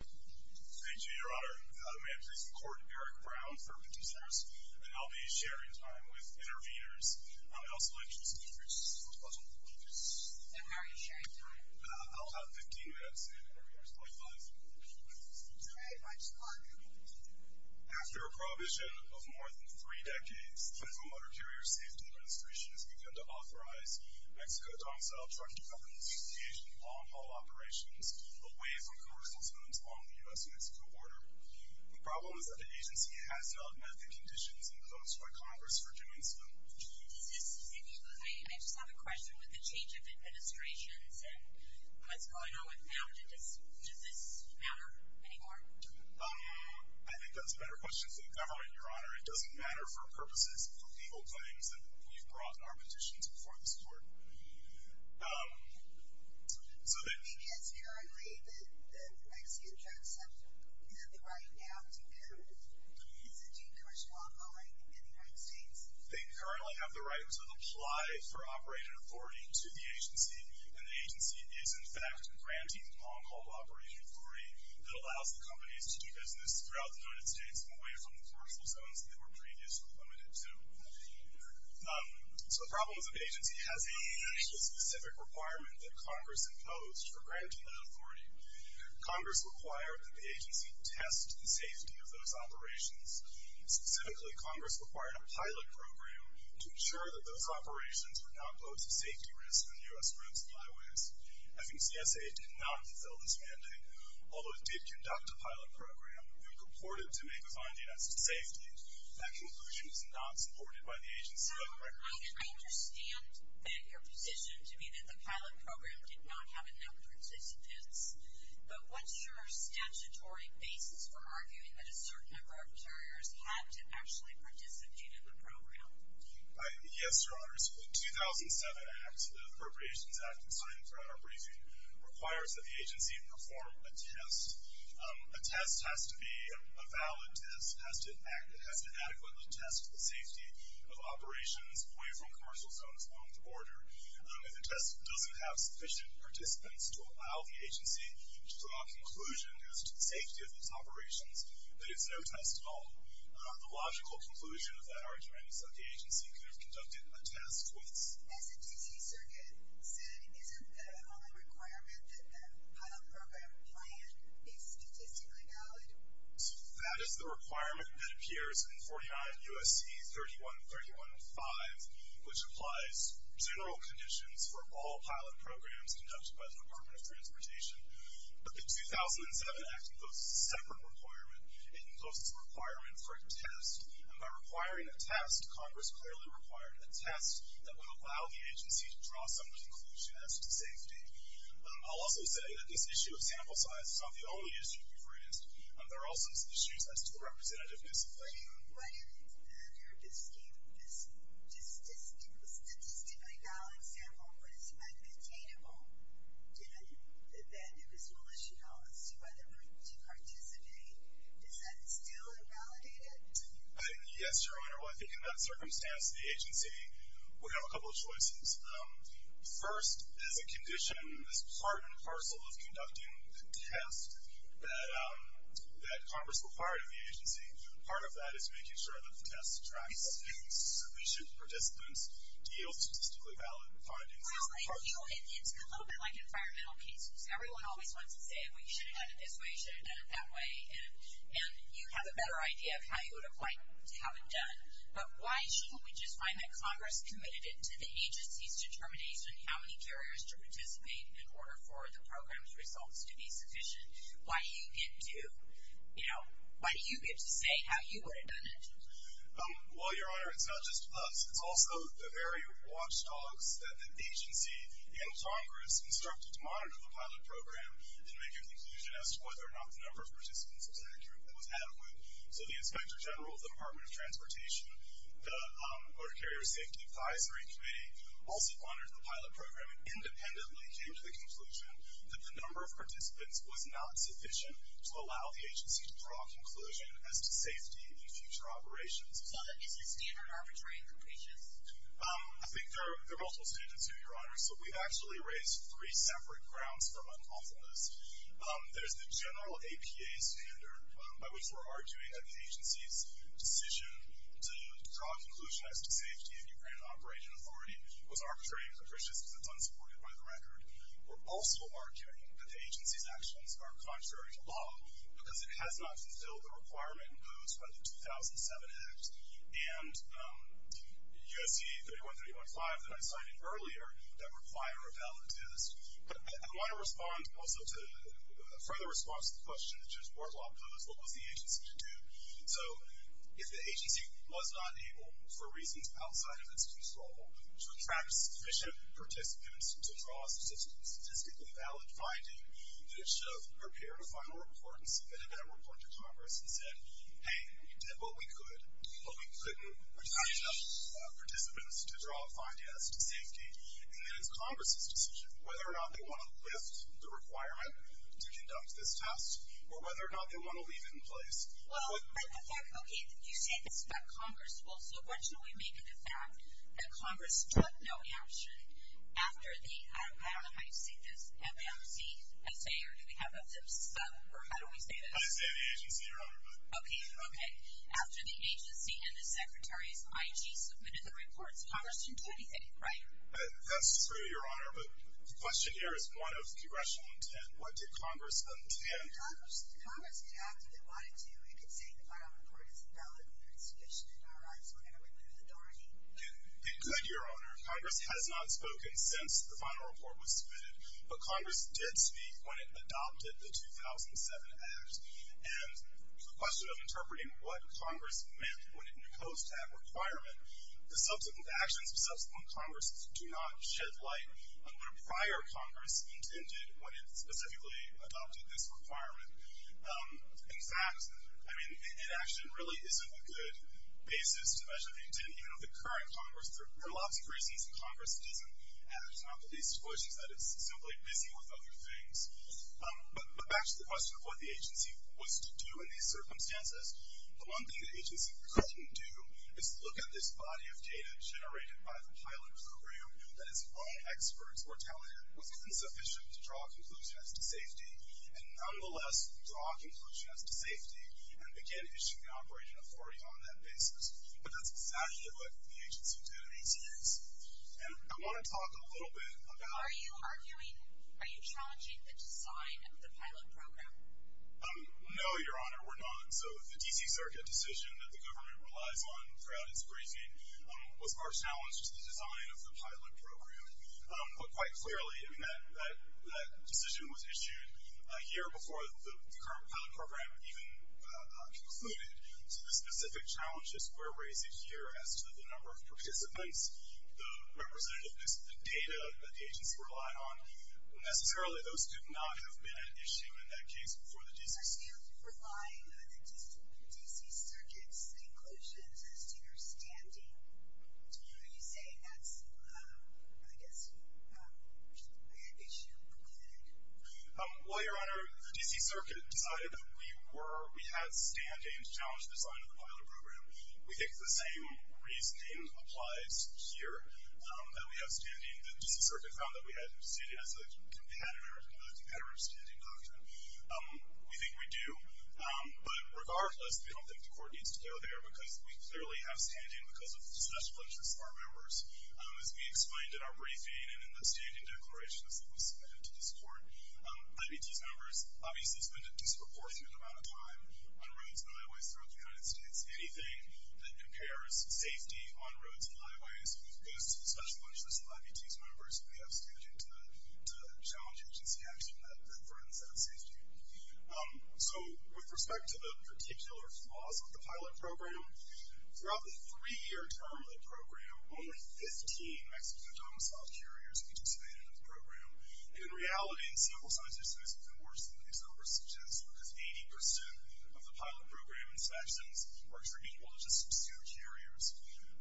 Thank you, Your Honor. May I please record Eric Brown for petitioners? And I'll be sharing time with intervenors. I would also like to introduce Ms. Rosabella Rodriguez. And how are you sharing time? I'll have 15 minutes and intervenors will have 5 minutes. Very much so. After a prohibition of more than three decades, the Federal Motor Carrier Safety Administration has begun to authorize Mexico-Dongsao Trucking Company's engaged in long-haul operations away from commercial zones along the U.S.-Mexico border. The problem is that the agency has developed medical conditions imposed by Congress for doing so. I just have a question with the change of administrations and what's going on with that. Does this matter anymore? I think that's a better question for the government, Your Honor. It doesn't matter for purposes of legal claims that we've brought in our petitions before this Court. Because currently the Mexican trucks have the right now to do commercial long-hauling in the United States. They currently have the right to apply for operating authority to the agency. And the agency is, in fact, granting long-haul operating authority that allows the companies to do business throughout the United States away from the commercial zones that they were previously limited to. So the problem is that the agency has a specific requirement that Congress imposed for granting that authority. Congress required that the agency test the safety of those operations. Specifically, Congress required a pilot program to ensure that those operations would not pose a safety risk on U.S. roads and highways. FEMCSA did not fulfill this mandate. Although it did conduct a pilot program, we purported to make a finding as to safety. That conclusion is not supported by the agency. Now, I understand that your position to me that the pilot program did not have enough participants. But what's your statutory basis for arguing that a certain number of couriers had to actually participate in the program? Yes, Your Honors. The 2007 Act, the Appropriations Act, that's signed throughout our briefing, requires that the agency perform a test. A test has to be a valid test. It has to adequately test the safety of operations away from commercial zones along the border. If a test doesn't have sufficient participants to allow the agency to draw a conclusion as to the safety of its operations, then it's no test at all. The logical conclusion of that argument is that the agency could have conducted a test with... As the D.C. Circuit said, isn't the requirement that the pilot program plan be statistically valid? That is the requirement that appears in 49 U.S.C. 31315, which applies general conditions for all pilot programs conducted by the Department of Transportation. But the 2007 Act imposes a separate requirement. It imposes a requirement for a test. And by requiring a test, Congress clearly required a test that would allow the agency to draw some conclusion as to safety. I'll also say that this issue of sample size is not the only issue we've raised. There are all sorts of issues as to the representativeness of that. What if it's not? If it's a statistically valid sample, but it's not containable, then it is malicional to participate. Is that still invalidated? Yes, Your Honor. Well, I think in that circumstance, the agency would have a couple of choices. First, as a condition, this part and parcel of conducting the test that Congress required of the agency, part of that is making sure that the test attracts sufficient participants to yield statistically valid findings. It's a little bit like environmental cases. Everyone always wants to say, well, you should have done it this way, you should have done it that way, and you have a better idea of how you would have liked to have it done. But why shouldn't we just find that Congress committed it to the agency's determination how many carriers to participate in order for the program's results to be sufficient? Why do you get to say how you would have done it? Well, Your Honor, it's not just us. It's also the very watchdogs that the agency and Congress instructed to monitor the pilot program and make a conclusion as to whether or not the number of participants was adequate. So the Inspector General of the Department of Transportation, the Motor Carrier Safety Advisory Committee, also monitored the pilot program and independently came to the conclusion that the number of participants was not sufficient to allow the agency to draw a conclusion as to safety in future operations. So is the standard arbitrary and capricious? I think there are multiple standards, too, Your Honor. So we've actually raised three separate grounds for unlawfulness. There's the general APA standard, by which we're arguing that the agency's decision to draw a conclusion as to safety in Ukraine Operation Authority was arbitrary and capricious because it's unsupported by the record. We're also arguing that the agency's actions are contrary to law because it has not fulfilled the requirement imposed by the 2007 Act. And USC 31315 that I cited earlier, that require a valid test. But I want to respond also to a further response to the question that Judge Wardlaw posed, what was the agency to do? So if the agency was not able, for reasons outside of its control, to attract sufficient participants to draw a statistically valid finding, then it should have prepared a final report and submitted that report to Congress and said, hey, we did what we could, but we couldn't attract enough participants to draw a fine test to safety. And then it's Congress's decision, whether or not they want to lift the requirement to conduct this test or whether or not they want to leave it in place. Well, but the fact, okay, you say this about Congress. Well, so what should we make of the fact that Congress took no action after the, I don't know how you say this, MNCSA, or do we have a sub, or how do we say this? I say the agency, Your Honor. Okay, okay. After the agency and the Secretary's IG submitted the reports, Congress didn't do anything, right? That's true, Your Honor. But the question here is one of congressional intent. What did Congress intend? Congress could have, if they wanted to. It could say the final report isn't valid, but it's sufficient in our eyes, so we're going to remove the door and leave it. It could, Your Honor. Congress has not spoken since the final report was submitted. But Congress did speak when it adopted the 2007 Act. And the question of interpreting what Congress meant when it imposed that requirement, the subsequent actions of subsequent Congresses do not shed light on what a prior Congress intended when it specifically adopted this requirement. In fact, I mean, inaction really isn't a good basis to measure the intent, even of the current Congress. There are lots of reasons Congress doesn't act. One of the basic reasons is that it's simply busy with other things. But back to the question of what the agency was to do in these circumstances, the one thing the agency couldn't do is look at this body of data generated by the pilot crew that its own experts were telling it wasn't sufficient to draw a conclusion as to safety, and nonetheless draw a conclusion as to safety and begin issuing operating authority on that basis. But that's exactly what the agency did in these years. And I want to talk a little bit about that. Are you challenging the design of the pilot program? No, Your Honor, we're not. So the D.C. Circuit decision that the government relies on throughout its briefing was far challenged to the design of the pilot program. But quite clearly, I mean, that decision was issued a year before the current pilot program even concluded. The representativeness of the data that the agency relied on, necessarily those do not have been an issue in that case before the D.C. So you're relying on the D.C. Circuit's conclusions as to your standing. Are you saying that's, I guess, an issue concluded? Well, Your Honor, the D.C. Circuit decided that we were, we had standing to challenge the design of the pilot program. We think the same reasoning applies here, that we have standing. The D.C. Circuit found that we had standing as a competitor, a competitor of standing doctrine. We think we do. But regardless, we don't think the court needs to go there because we clearly have standing because of the special interests of our members. As we explained in our briefing and in the standing declarations that were submitted to this court, I.B.T.'s members obviously spend a disproportionate amount of time on roads and highways throughout the United States. Anything that compares safety on roads and highways goes to the special interests of I.B.T.'s members. We have standing to challenge agency action that threatens that safety. So with respect to the particular flaws of the pilot program, throughout the three-year term of the program, only 15 Mexican domiciled carriers participated in the program. And in reality, in civil society, it's even worse than these numbers suggest because 80% of the pilot program inspections were for equal to just obscured carriers.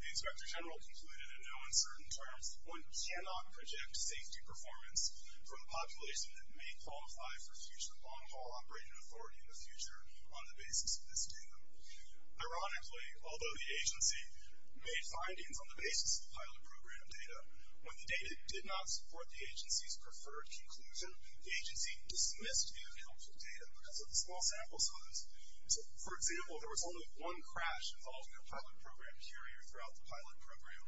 The inspector general concluded in no uncertain terms, one cannot project safety performance from a population that may qualify for future long-haul operating authority in the future on the basis of this data. Ironically, although the agency made findings on the basis of the pilot program data, when the data did not support the agency's preferred conclusion, the agency dismissed the available data because of the small sample size. For example, there was only one crash involving a pilot program carrier throughout the pilot program,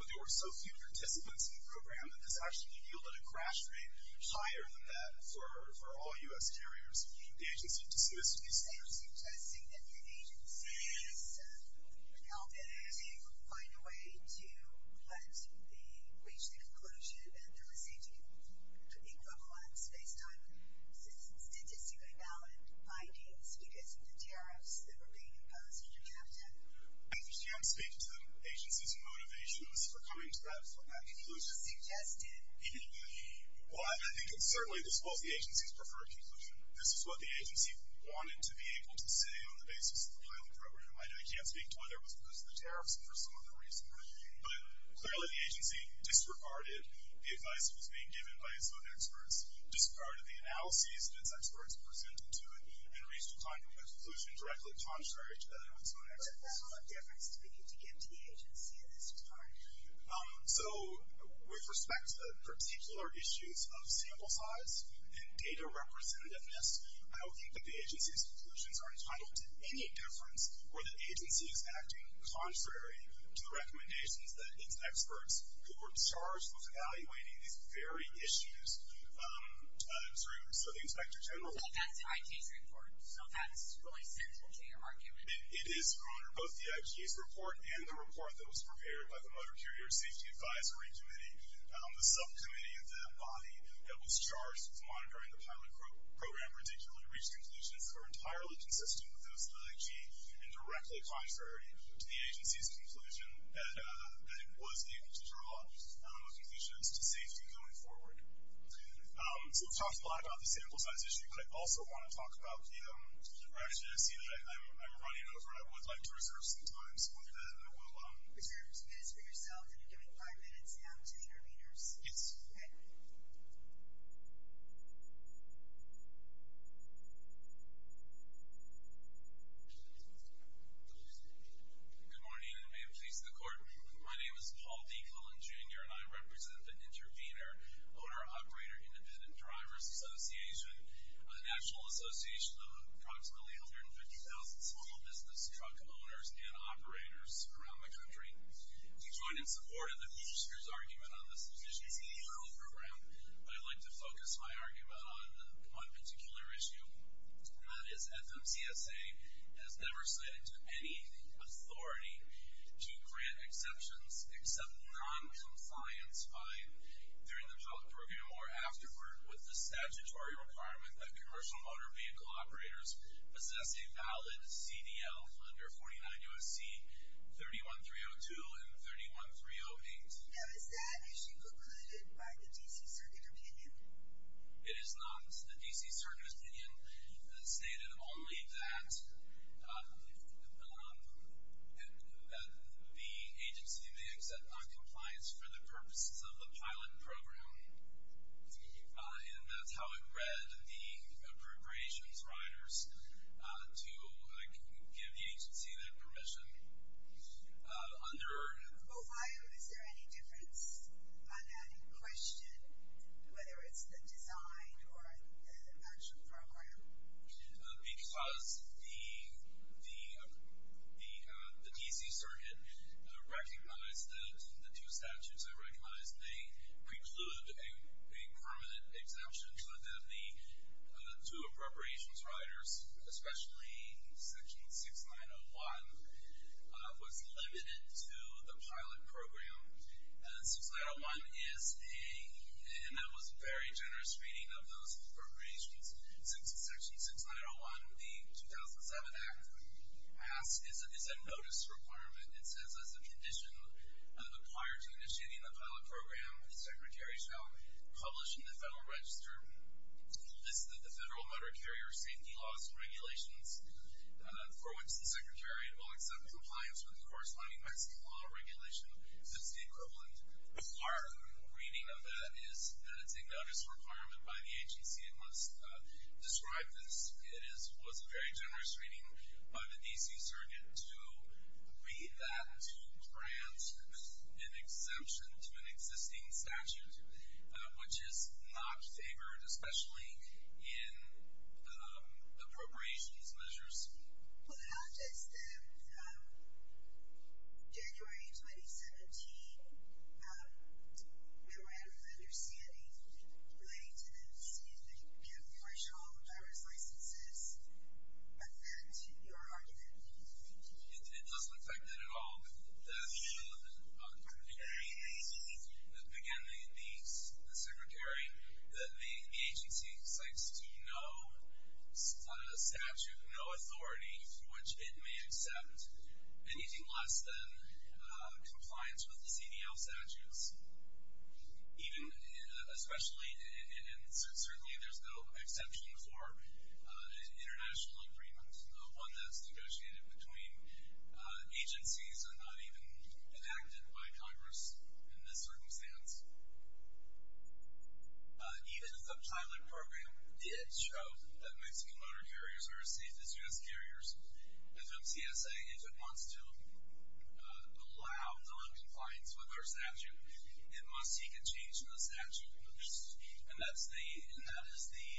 but there were so few participants in the program that this actually yielded a crash rate higher than that for all U.S. carriers. The agency dismissed these figures. So you're suggesting that the agency has been helping to find a way to let us reach the conclusion that there was safety equivalence based on statistically valid findings because of the tariffs that were being imposed on your captain? I can't speak to the agency's motivations for coming to that conclusion. You just suggested. Well, I think it's certainly the agency's preferred conclusion. This is what the agency wanted to be able to say on the basis of the pilot program. I can't speak to whether it was because of the tariffs or for some other reason. But clearly the agency disregarded the advice that was being given by its own experts, disregarded the analyses that its experts presented to it, and reached a conclusion directly contrary to that of its own experts. What level of difference do we need to give to the agency in this regard? So with respect to particular issues of sample size and data representativeness, I don't think that the agency's conclusions are entitled to any difference where the agency is acting contrary to the recommendations that its experts who were charged with evaluating these very issues through the inspector general. But that's the IP's report. So that's really sensible to your argument. It is, Your Honor. Both the IP's report and the report that was prepared by the Motor Carrier Safety Advisory Committee, the subcommittee of that body that was charged with monitoring the pilot program, have not particularly reached conclusions that are entirely consistent with those of the key and directly contrary to the agency's conclusion that it was able to draw a conclusion as to safety going forward. So we've talked a lot about the sample size issue. I also want to talk about the brevity that I see that I'm running over, and I would like to reserve some time. So with that, I will. Reserve some minutes for yourself, and I'm giving five minutes now to the interveners. Yes. Okay. Good morning, and may it please the Court. My name is Paul D. Cullen, Jr., and I represent the Intervener Owner Operator Independent Drivers Association, a national association of approximately 150,000 small business truck owners and operators around the country. We join in support of the prosecutor's argument on this position. I'd like to focus my argument on one particular issue, and that is FMCSA has never cited any authority to grant exceptions except non-compliance during the pilot program or afterward with the statutory requirement that commercial motor vehicle operators possess a valid CDL under 49 U.S.C. 31302 and 31308. Now, is that issue concluded by the D.C. Circuit Opinion? It is not. The D.C. Circuit Opinion stated only that the agency may accept noncompliance for the purposes of the pilot program, and that's how it read the appropriations riders to give the agency their permission under. Well, why? Is there any difference on that question, whether it's the design or the actual program? Because the D.C. Circuit recognized that the two statutes it recognized may preclude a permanent exemption, but then the two appropriations riders, especially Section 6901, was limited to the pilot program. And that was a very generous reading of those appropriations. Section 6901, the 2007 Act, is a notice requirement. It says, as a condition prior to initiating the pilot program, the Secretary shall publish in the Federal Register a list of the Federal Motor Carrier Safety Laws and Regulations for which the Secretary will accept compliance with the corresponding Mexican law regulation. That's the equivalent part. The reading of that is that it's a notice requirement by the agency. It must describe this. It was a very generous reading by the D.C. Circuit to read that to grant an exemption to an existing statute, which is not favored, especially in appropriations measures. Well, how does the January 2017 memorandum of understanding relating to the smoothing of commercial driver's licenses affect your argument? It doesn't affect it at all. Again, the Secretary, the agency cites no statute, no authority for which it may accept anything less than compliance with the CDL statutes, even especially, and certainly there's no exemption for an international agreement, one that's negotiated between agencies and not even enacted by Congress in this circumstance. Even if the pilot program did show that Mexican motor carriers are as safe as U.S. carriers, FMCSA, if it wants to allow noncompliance with our statute, it must seek a change in the statute. And that is the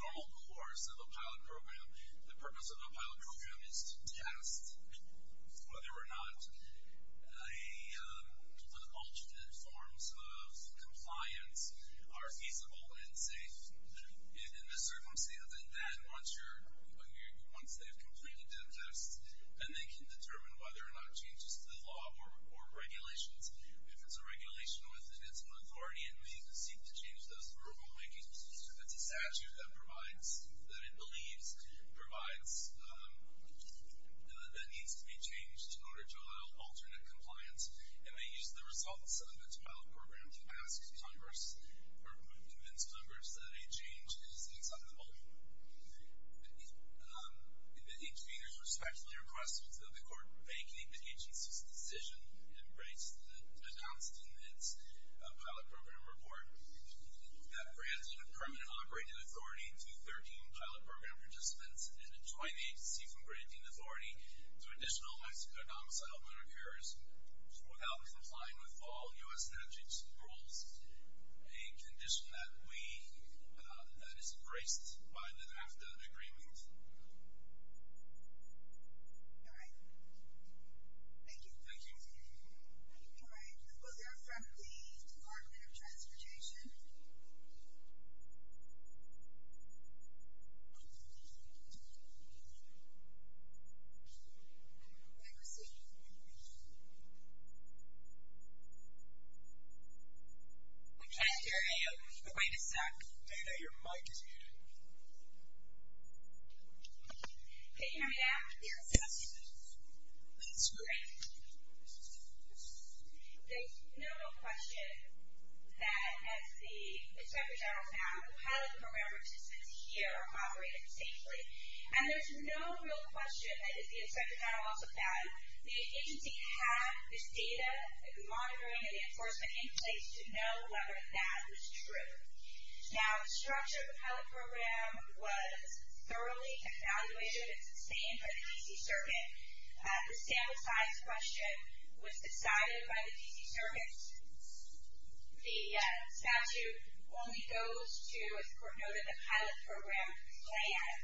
normal course of a pilot program. The purpose of a pilot program is to test whether or not the alternate forms of compliance are feasible and safe in this circumstance, and then once they've completed that test, then they can determine whether or not changes to the law or regulations. If it's a regulation within its own authority, it may even seek to change those rulemakings. If it's a statute that provides, that it believes provides, that needs to be changed in order to allow alternate compliance, it may use the results of its pilot program to ask Congress or convince Congress that a change is acceptable. If the intervener respectfully requests that the court make the agency's decision and embrace the announced in its pilot program report, that grants a permanent operating authority to 13 pilot program participants and a joint agency from granting authority to additional Mexican domiciled motor carriers without complying with all U.S. statutes and rules, a condition that is embraced by the NAFTA agreement. All right. Thank you. Thank you. All right. Let's go there from the Department of Transportation. And proceed. I'm trying to hear you. Wait a sec. Dana, your mic is muted. Can you hear me now? Yes. That's great. There's no question that as the Inspector General has now, the pilot program participants here are operating safely. And there's no real question that if the Inspector General also found that the agency had this data monitoring and enforcement in place to know whether that was true. Now the structure of the pilot program was thoroughly evaluated and sustained by the D.C. Circuit. The standardized question was decided by the D.C. Circuit. The statute only goes to, as the court noted, the pilot program plan.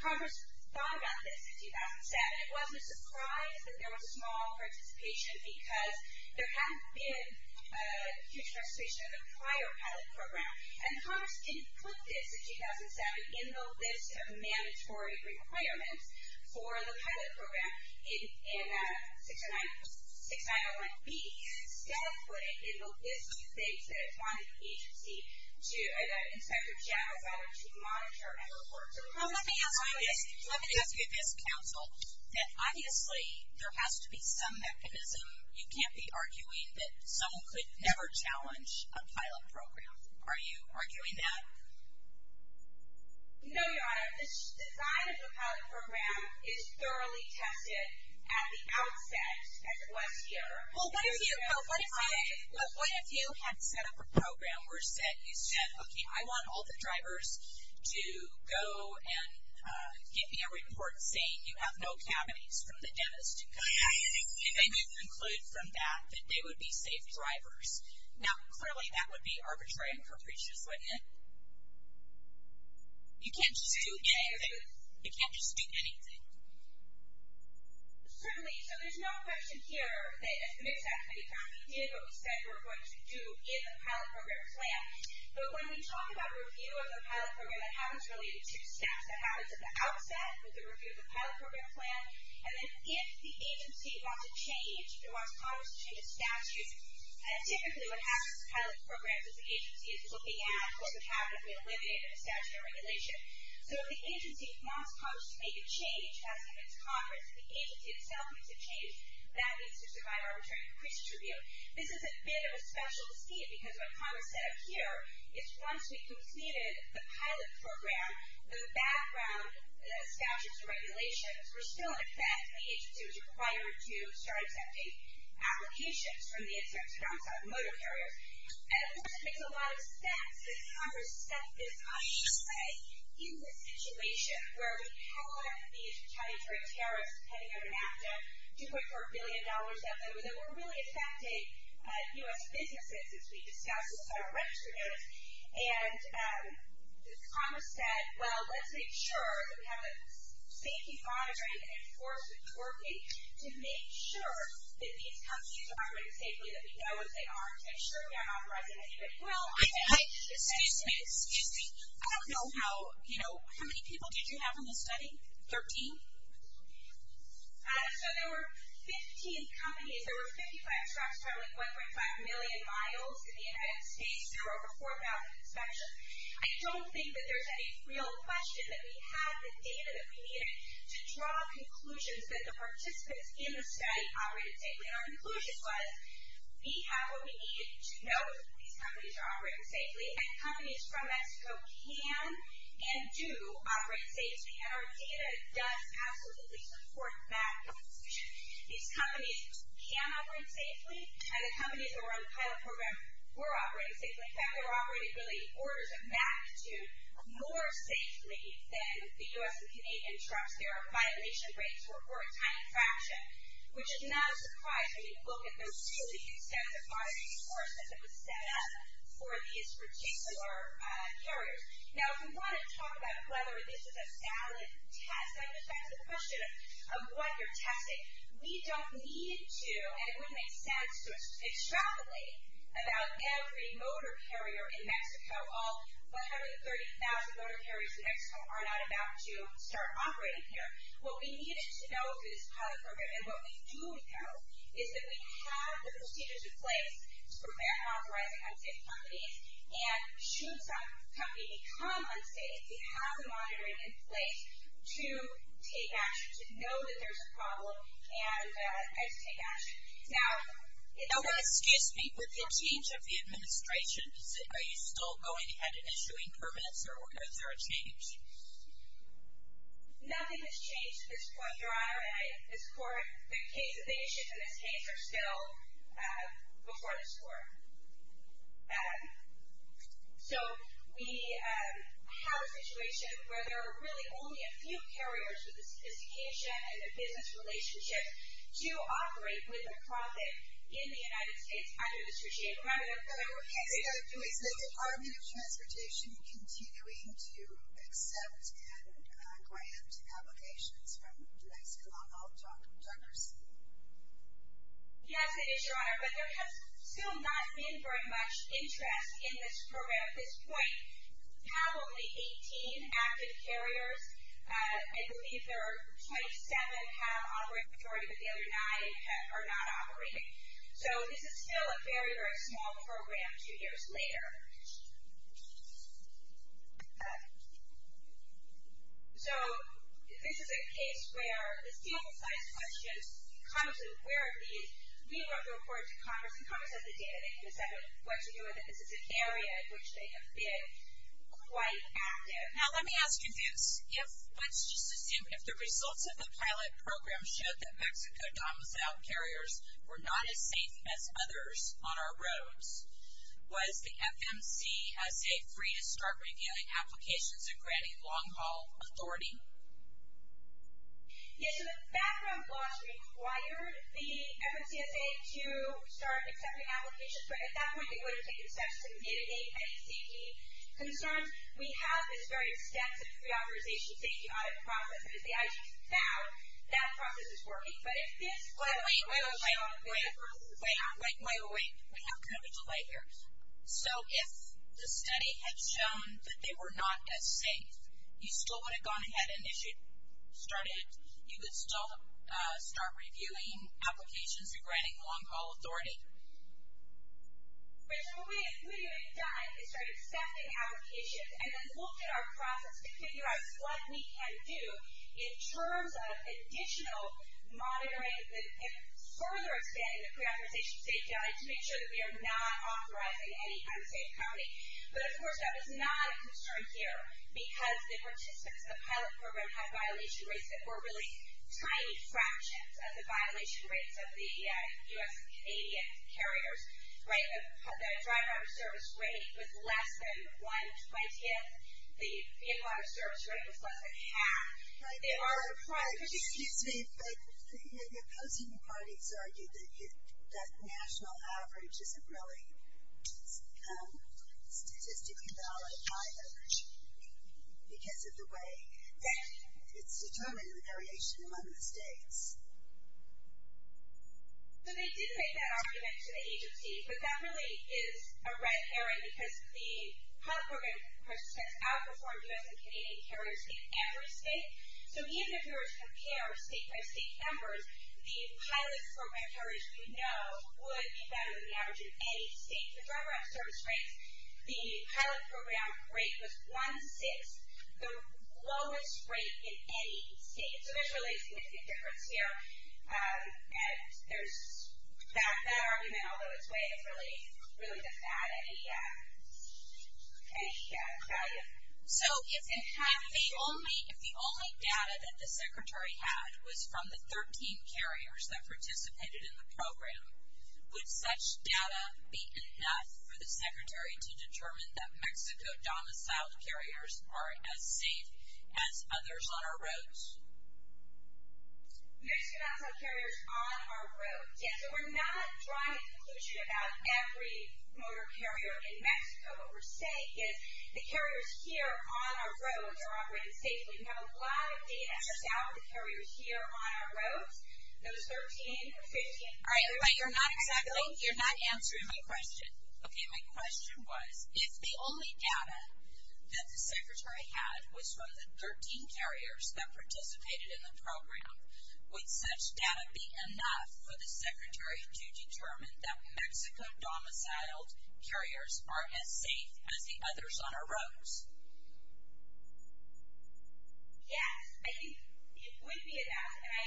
Congress thought about this in 2007. And it wasn't a surprise that there was a small participation because there hadn't been a huge participation in the prior pilot program. And Congress didn't put this in 2007 in the list of mandatory requirements for the pilot program in 6901B. Instead, it put it in the list of things that it wanted the agency to, the Inspector General to monitor and report. Let me ask you this, counsel, that obviously there has to be some mechanism. You can't be arguing that someone could never challenge a pilot program. Are you arguing that? No, Your Honor. The design of the pilot program is thoroughly tested at the outset, as it was here. Well, what if you had set up a program where you said, okay, I want all the drivers to go and give me a report saying you have no cavities from the dentist. And then you conclude from that that they would be safe drivers. Now, clearly that would be arbitrary and capricious, wouldn't it? You can't just do anything. You can't just do anything. Certainly. So there's no question here that as the Mid-South Committee finally did what we said we were going to do in the pilot program plan. But when we talk about review of a pilot program, that happens really in two steps. That happens at the outset with the review of the pilot program plan. And then if the agency wants to change, if it wants Congress to change a statute, typically what happens in pilot programs is the agency is looking at what would happen if we eliminated a statute or regulation. So if the agency wants Congress to make a change, as against Congress, and the agency itself needs to change, that needs to survive arbitrary and capricious review. This is a bit of a special scene because what Congress said up here is once we completed the pilot program, the background statutes and regulations were still in effect. The agency was required to start accepting applications from the insurance accounts out of motor carriers. And, of course, it makes a lot of sense that Congress set this up this way in the situation where we have a lot of these titanic terrorists heading out of NAFTA, $2.4 billion of them. They were really affecting U.S. businesses as we discussed with our regulators. And Congress said, well, let's make sure that we have the safety monitoring and enforcement working to make sure that these companies are operating safely, that we know what they are, to make sure we aren't authorizing any of it. Well, I said, excuse me, excuse me, I don't know how, you know, how many people did you have in this study, 13? So there were 15 companies, there were 55 trucks traveling 1.5 million miles in the United States through over 4,000 inspections. I don't think that there's any real question that we had the data that we needed to draw conclusions that the participants in the study operated safely. And our conclusion was we have what we need to know that these companies are operating safely, and companies from Mexico can and do operate safely. And our data does absolutely support that conclusion. These companies can operate safely, and the companies that were on the pilot program were operating safely. In fact, they were operating really orders of magnitude more safely than the U.S. and Canadian trucks. Their violation rates were a tiny fraction, which is not a surprise when you look at the really extensive monitoring and enforcement that was set up for these particular carriers. Now, if you want to talk about whether this is a solid test, I just ask the question of what you're testing. We don't need to, and it wouldn't make sense to extrapolate about every motor carrier in Mexico, all 130,000 motor carriers in Mexico are not about to start operating here. What we needed to know through this pilot program, and what we do know, is that we have the procedures in place for authorizing unsafe companies and should some company become unsafe, we have the monitoring in place to take action, to know that there's a problem, and to take action. MS. MCCARTY No, no, excuse me. With the change of the administration, are you still going ahead and issuing permits, or is there a change? MS. GARRETT Nothing has changed at this point, Your Honor. This Court, the cases issued in this case are still before this Court. So, we have a situation where there are really only a few carriers with the sophistication and the business relationship to operate with a profit in the United States under this regime. MS. MCCARTY Okay. So, is the Department of Transportation continuing to accept and grant applications from Mexico? I'll talk with Dr. Sealy. MS. SEALY Yes, it is, Your Honor. But there has still not been very much interest in this program. At this point, we have only 18 active carriers. I believe there are 27 that have operated, but the other nine are not operating. So, this is still a very, very small program two years later. So, this is a case where the steel size question comes in, where are these? We want to report to Congress, and Congress has the data. They can decide what to do with it. This is an area in which they have been quite active. MS. MCCARTY Now, let me ask you this. If, let's just assume, if the results of the pilot program showed that Mexico domiciled carriers were not as safe as others on our roads, was the FMCSA free to start reviewing applications and granting long-haul authority? MS. SEALY Yes. So, the background clause required the FMCSA to start accepting applications, but at that point, they would have taken steps to mitigate any safety concerns. We have this very extensive reauthorization safety audit process, and as you can see, I just found that process is working. But, if this were to show... MS. MCCARTY Wait, wait, wait, wait, wait. Wait, wait, wait, wait. We have kind of a delay here. So, if the study had shown that they were not as safe, you still would have gone ahead and if you started, you would still start reviewing applications and granting long-haul authority. MS. SEALY But, so what we would have done is start accepting applications and then looked at our process to figure out what we can do in terms of additional monitoring and further expanding the preauthorization safety audit to make sure that we are not authorizing any unsafe company. But, of course, that was not a concern here because the participants of the pilot program had violation rates that were really tiny fractions of the violation rates of the U.S. and Canadian carriers, right? The drive-by-service rate was less than one-twentieth. The in-wire service rate was less than half. MS. MCCARTY Right. Excuse me, but the opposing parties argued that national average isn't really statistically valid, high average, because of the way that it's determined in the variation among the states. MS. SEALY So, they did make that argument to the agency, but that really is a red herring because the pilot program has outperformed U.S. and Canadian carriers in every state. So, even if you were to compare state-by-state numbers, the pilot program carriers we know would be better than the average in any state. The drive-by-service rates, the pilot program rate was one-sixth, the lowest rate in any state. So, there's really a significant difference here, and that argument, although it's vague, really doesn't add any value. MS. MCCARTY So, if the only data that the Secretary had was from the 13 carriers that participated in the program, would such data be enough for the Secretary to determine that Mexico-domiciled carriers are as safe as others on our roads? MS. SEALY Mexico-domiciled carriers on our roads, yes. So, we're not drawing a conclusion about every motor carrier in Mexico. What we're saying is the carriers here on our roads are operating safely. We have a lot of data as a result of the carriers here on our roads, those 13 or 15. MS. MCCARTY All right, but you're not exactly, you're not answering my question. Okay, my question was, if the only data that the Secretary had was from the 13 carriers that participated in the program, would such data be enough for the Secretary to determine that Mexico-domiciled carriers are as safe as the others on our roads? MS. SEALY Yes, I think it would be enough, and I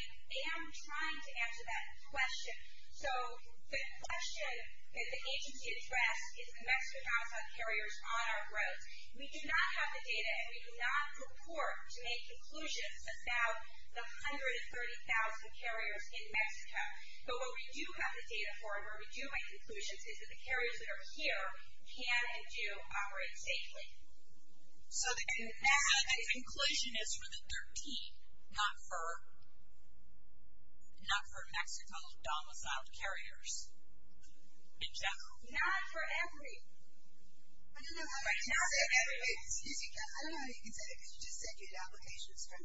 am trying to answer that question. So, the question that the agency addressed is the Mexico-domiciled carriers on our roads. We do not have the data, and we do not report to make conclusions about the 130,000 carriers in Mexico. But what we do have the data for, and where we do make conclusions, is that the carriers that are here can and do operate safely. MS. MCCARTY So, the conclusion is for the 13, not for Mexico-domiciled carriers in general? MS. SEALY Not for every. MS. MCCARTY I don't know how you can say that, because you just said you had applications from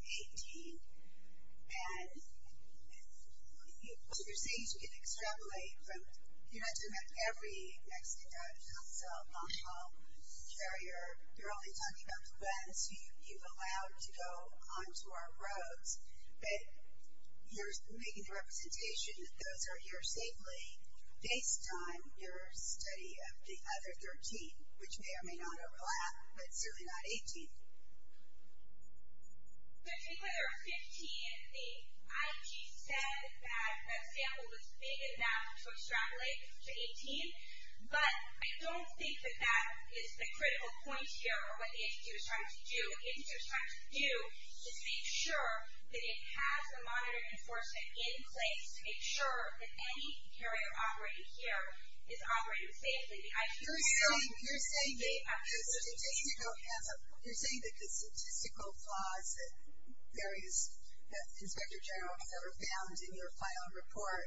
18, and what you're saying is you can extrapolate from, you're not talking about every Mexico-domiciled carrier. You're only talking about the ones you've allowed to go onto our roads. But you're making the representation that those are here safely based on your study of the other 13, which may or may not overlap, but certainly not 18. MS. MCCARTY So, I think when there were 15, the IG said that that sample was big enough to extrapolate to 18, but I don't think that that is the critical point here of what the agency was trying to do. What the agency was trying to do is make sure that it has the monitoring enforcement in place to make sure that any carrier operating here is operating safely. MS. SEALY You're saying that the statistical flaws that various, that the Inspector General has ever found in your final report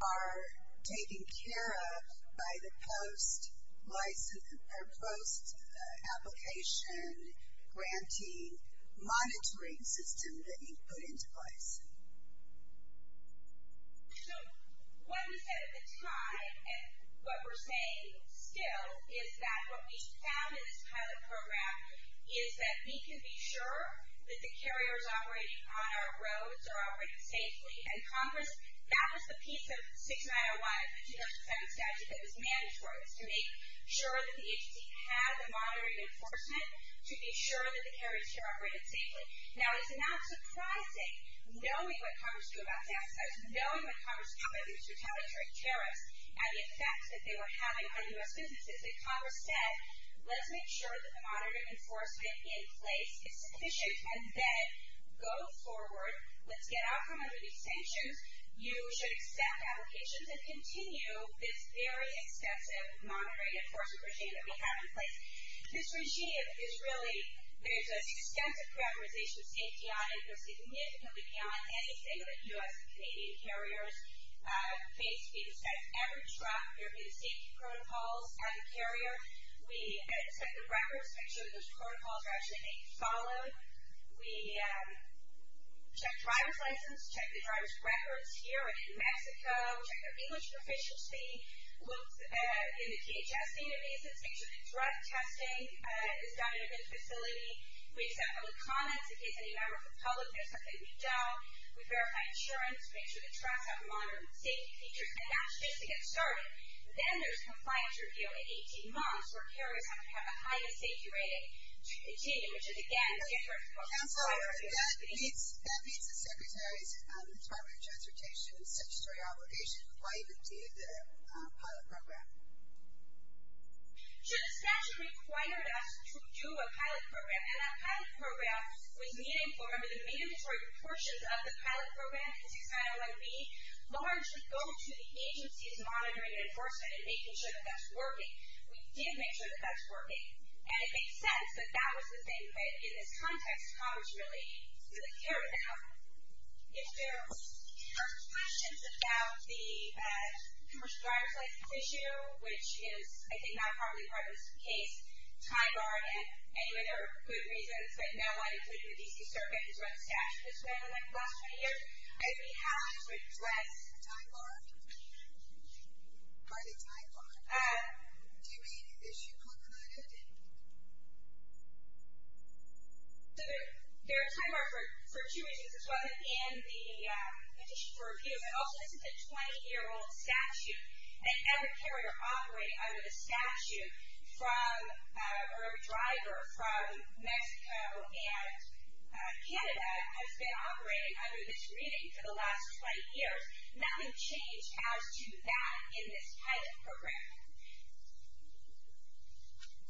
are taken care of by the post-license, or post-application grantee monitoring system that you put into place. MS. MCCARTY So, what we said at the time, and what we're saying still, is that what we found in this pilot program is that we can be sure that the carriers operating on our roads are operating safely. And Congress, that was the piece of 6901, the 2007 statute, that was mandatory, was to make sure that the agency had the monitoring enforcement to be sure that the carriers here operated safely. Now, it's not surprising, knowing what Congress did about tax cuts, knowing what Congress did about these retaliatory tariffs and the effect that they were having on U.S. businesses, that Congress said, let's make sure that the monitoring enforcement in place is sufficient and then go forward, let's get out from under these sanctions, you should accept applications and continue this very extensive monitoring enforcement regime that we have in place. This regime is really, there's an extensive characterization of safety on it. It will significantly count on any single U.S. and Canadian carriers. Basically, despite every truck, there will be the safety protocols on the carrier. We inspect the records, make sure that those protocols are actually being followed. We check driver's license, check the driver's records here and in Mexico, check their English proficiency, look in the DHS databases, make sure that drug testing is done in the facility. We accept all the comments in case any member of the public has something to doubt. We verify insurance, make sure the trucks have monitoring safety features, and that's just to get started. Then there's compliance review in 18 months, where carriers have to have a highly safety-rated team, which is, again, different. Councilor, that meets the Secretary's Department of Transportation statutory obligation. Why even do the pilot program? Sure, the statute required us to do a pilot program, and that pilot program was meaningful. Remember, the mandatory portions of the pilot program, the 6901B, largely go to the agency's monitoring and enforcement and making sure that that's working. We did make sure that that's working. And it makes sense that that was the thing that, in this context, Congress really didn't care about. If there are questions about the commercial driver's license issue, which is, I think, not probably part of this case, TIGAR, and anyway, there are good reasons, but no one, including the D.C. Circuit, has run the statute this way in the last 20 years. If we have to address TIGAR, do we issue one or not update? There are TIGAR for two reasons. This wasn't in the petition for review, but also this is a 20-year-old statute, and every carrier operating under the statute, or every driver from Mexico and Canada has been operating under this reading for the last 20 years. Nothing changed as to that in this pilot program.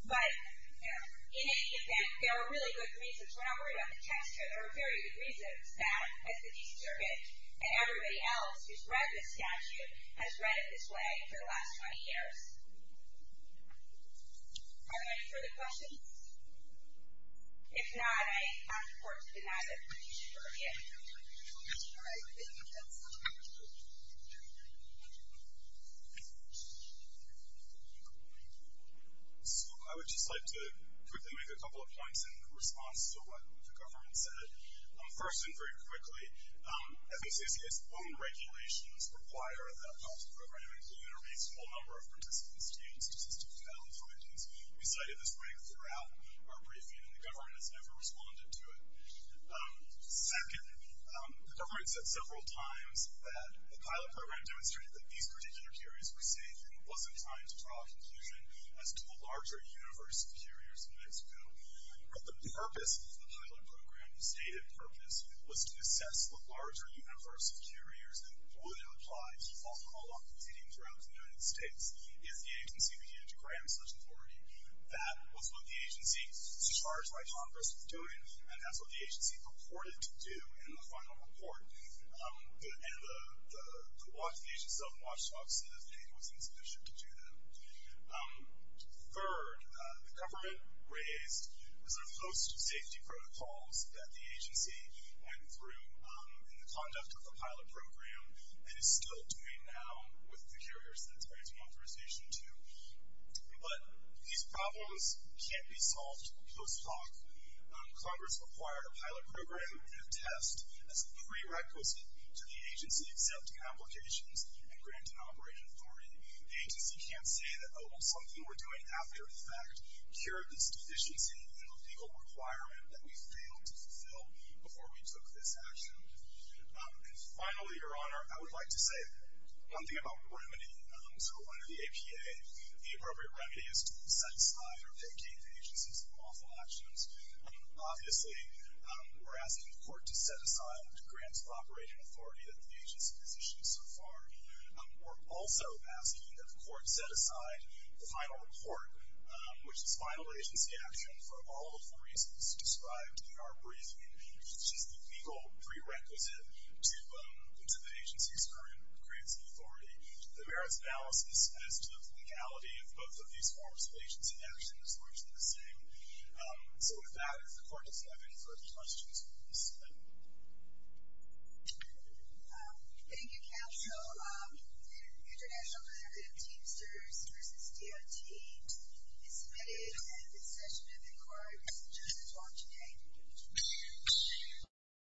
But, you know, in any event, there are really good reasons. We're not worried about the text here. There are very good reasons that, as the D.C. Circuit and everybody else who's read this statute has read it this way for the last 20 years. Are there any further questions? If not, I'm for it. If not, I'm for it. So, I would just like to quickly make a couple of points in response to what the government said. First, and very quickly, as we say, C.S. Bone regulations require that a pilot program include a reasonable number of participants to use statistics valid for victims. We cited this right throughout our briefing, and the government has never responded to it. Second, the government said several times that the pilot program demonstrated that these particular carriers were safe, and it wasn't time to draw a conclusion as to the larger universe of carriers in Mexico. But the purpose of the pilot program, the stated purpose, was to assess the larger universe of carriers and would apply a default call on competing throughout the United States if the agency began to grant such authority. That was what the agency, as far as my Congress was doing, and that's what the agency purported to do in the final report. And the self-watchdog said that it was insufficient to do that. Third, the government raised, was there a host of safety protocols that the agency went through in the conduct of the pilot program and is still doing now with the carriers that I spoke in conversation to. But these problems can't be solved post hoc. Congress required a pilot program to test as a prerequisite to the agency accepting applications and granting operating authority. The agency can't say that, oh, well, something we're doing after the fact cured this deficiency in a legal requirement that we failed to fulfill before we took this action. And finally, Your Honor, I would like to say something about remedy. So under the APA, the appropriate remedy is to set aside or vacate the agency's lawful actions. Obviously, we're asking the court to set aside the grants of operating authority that the agency has issued so far. We're also asking that the court set aside the final report, which is final agency action for all of the reasons described in our briefing, which is the legal prerequisite to the agency's operating authority. The merits analysis as to the legality of both of these forms of agency action is largely the same. So with that, if the court doesn't have any further questions, please. Thank you. Thank you, counsel. The international letter of Teamsters v. DOT is submitted and the session of the court is adjourned until today.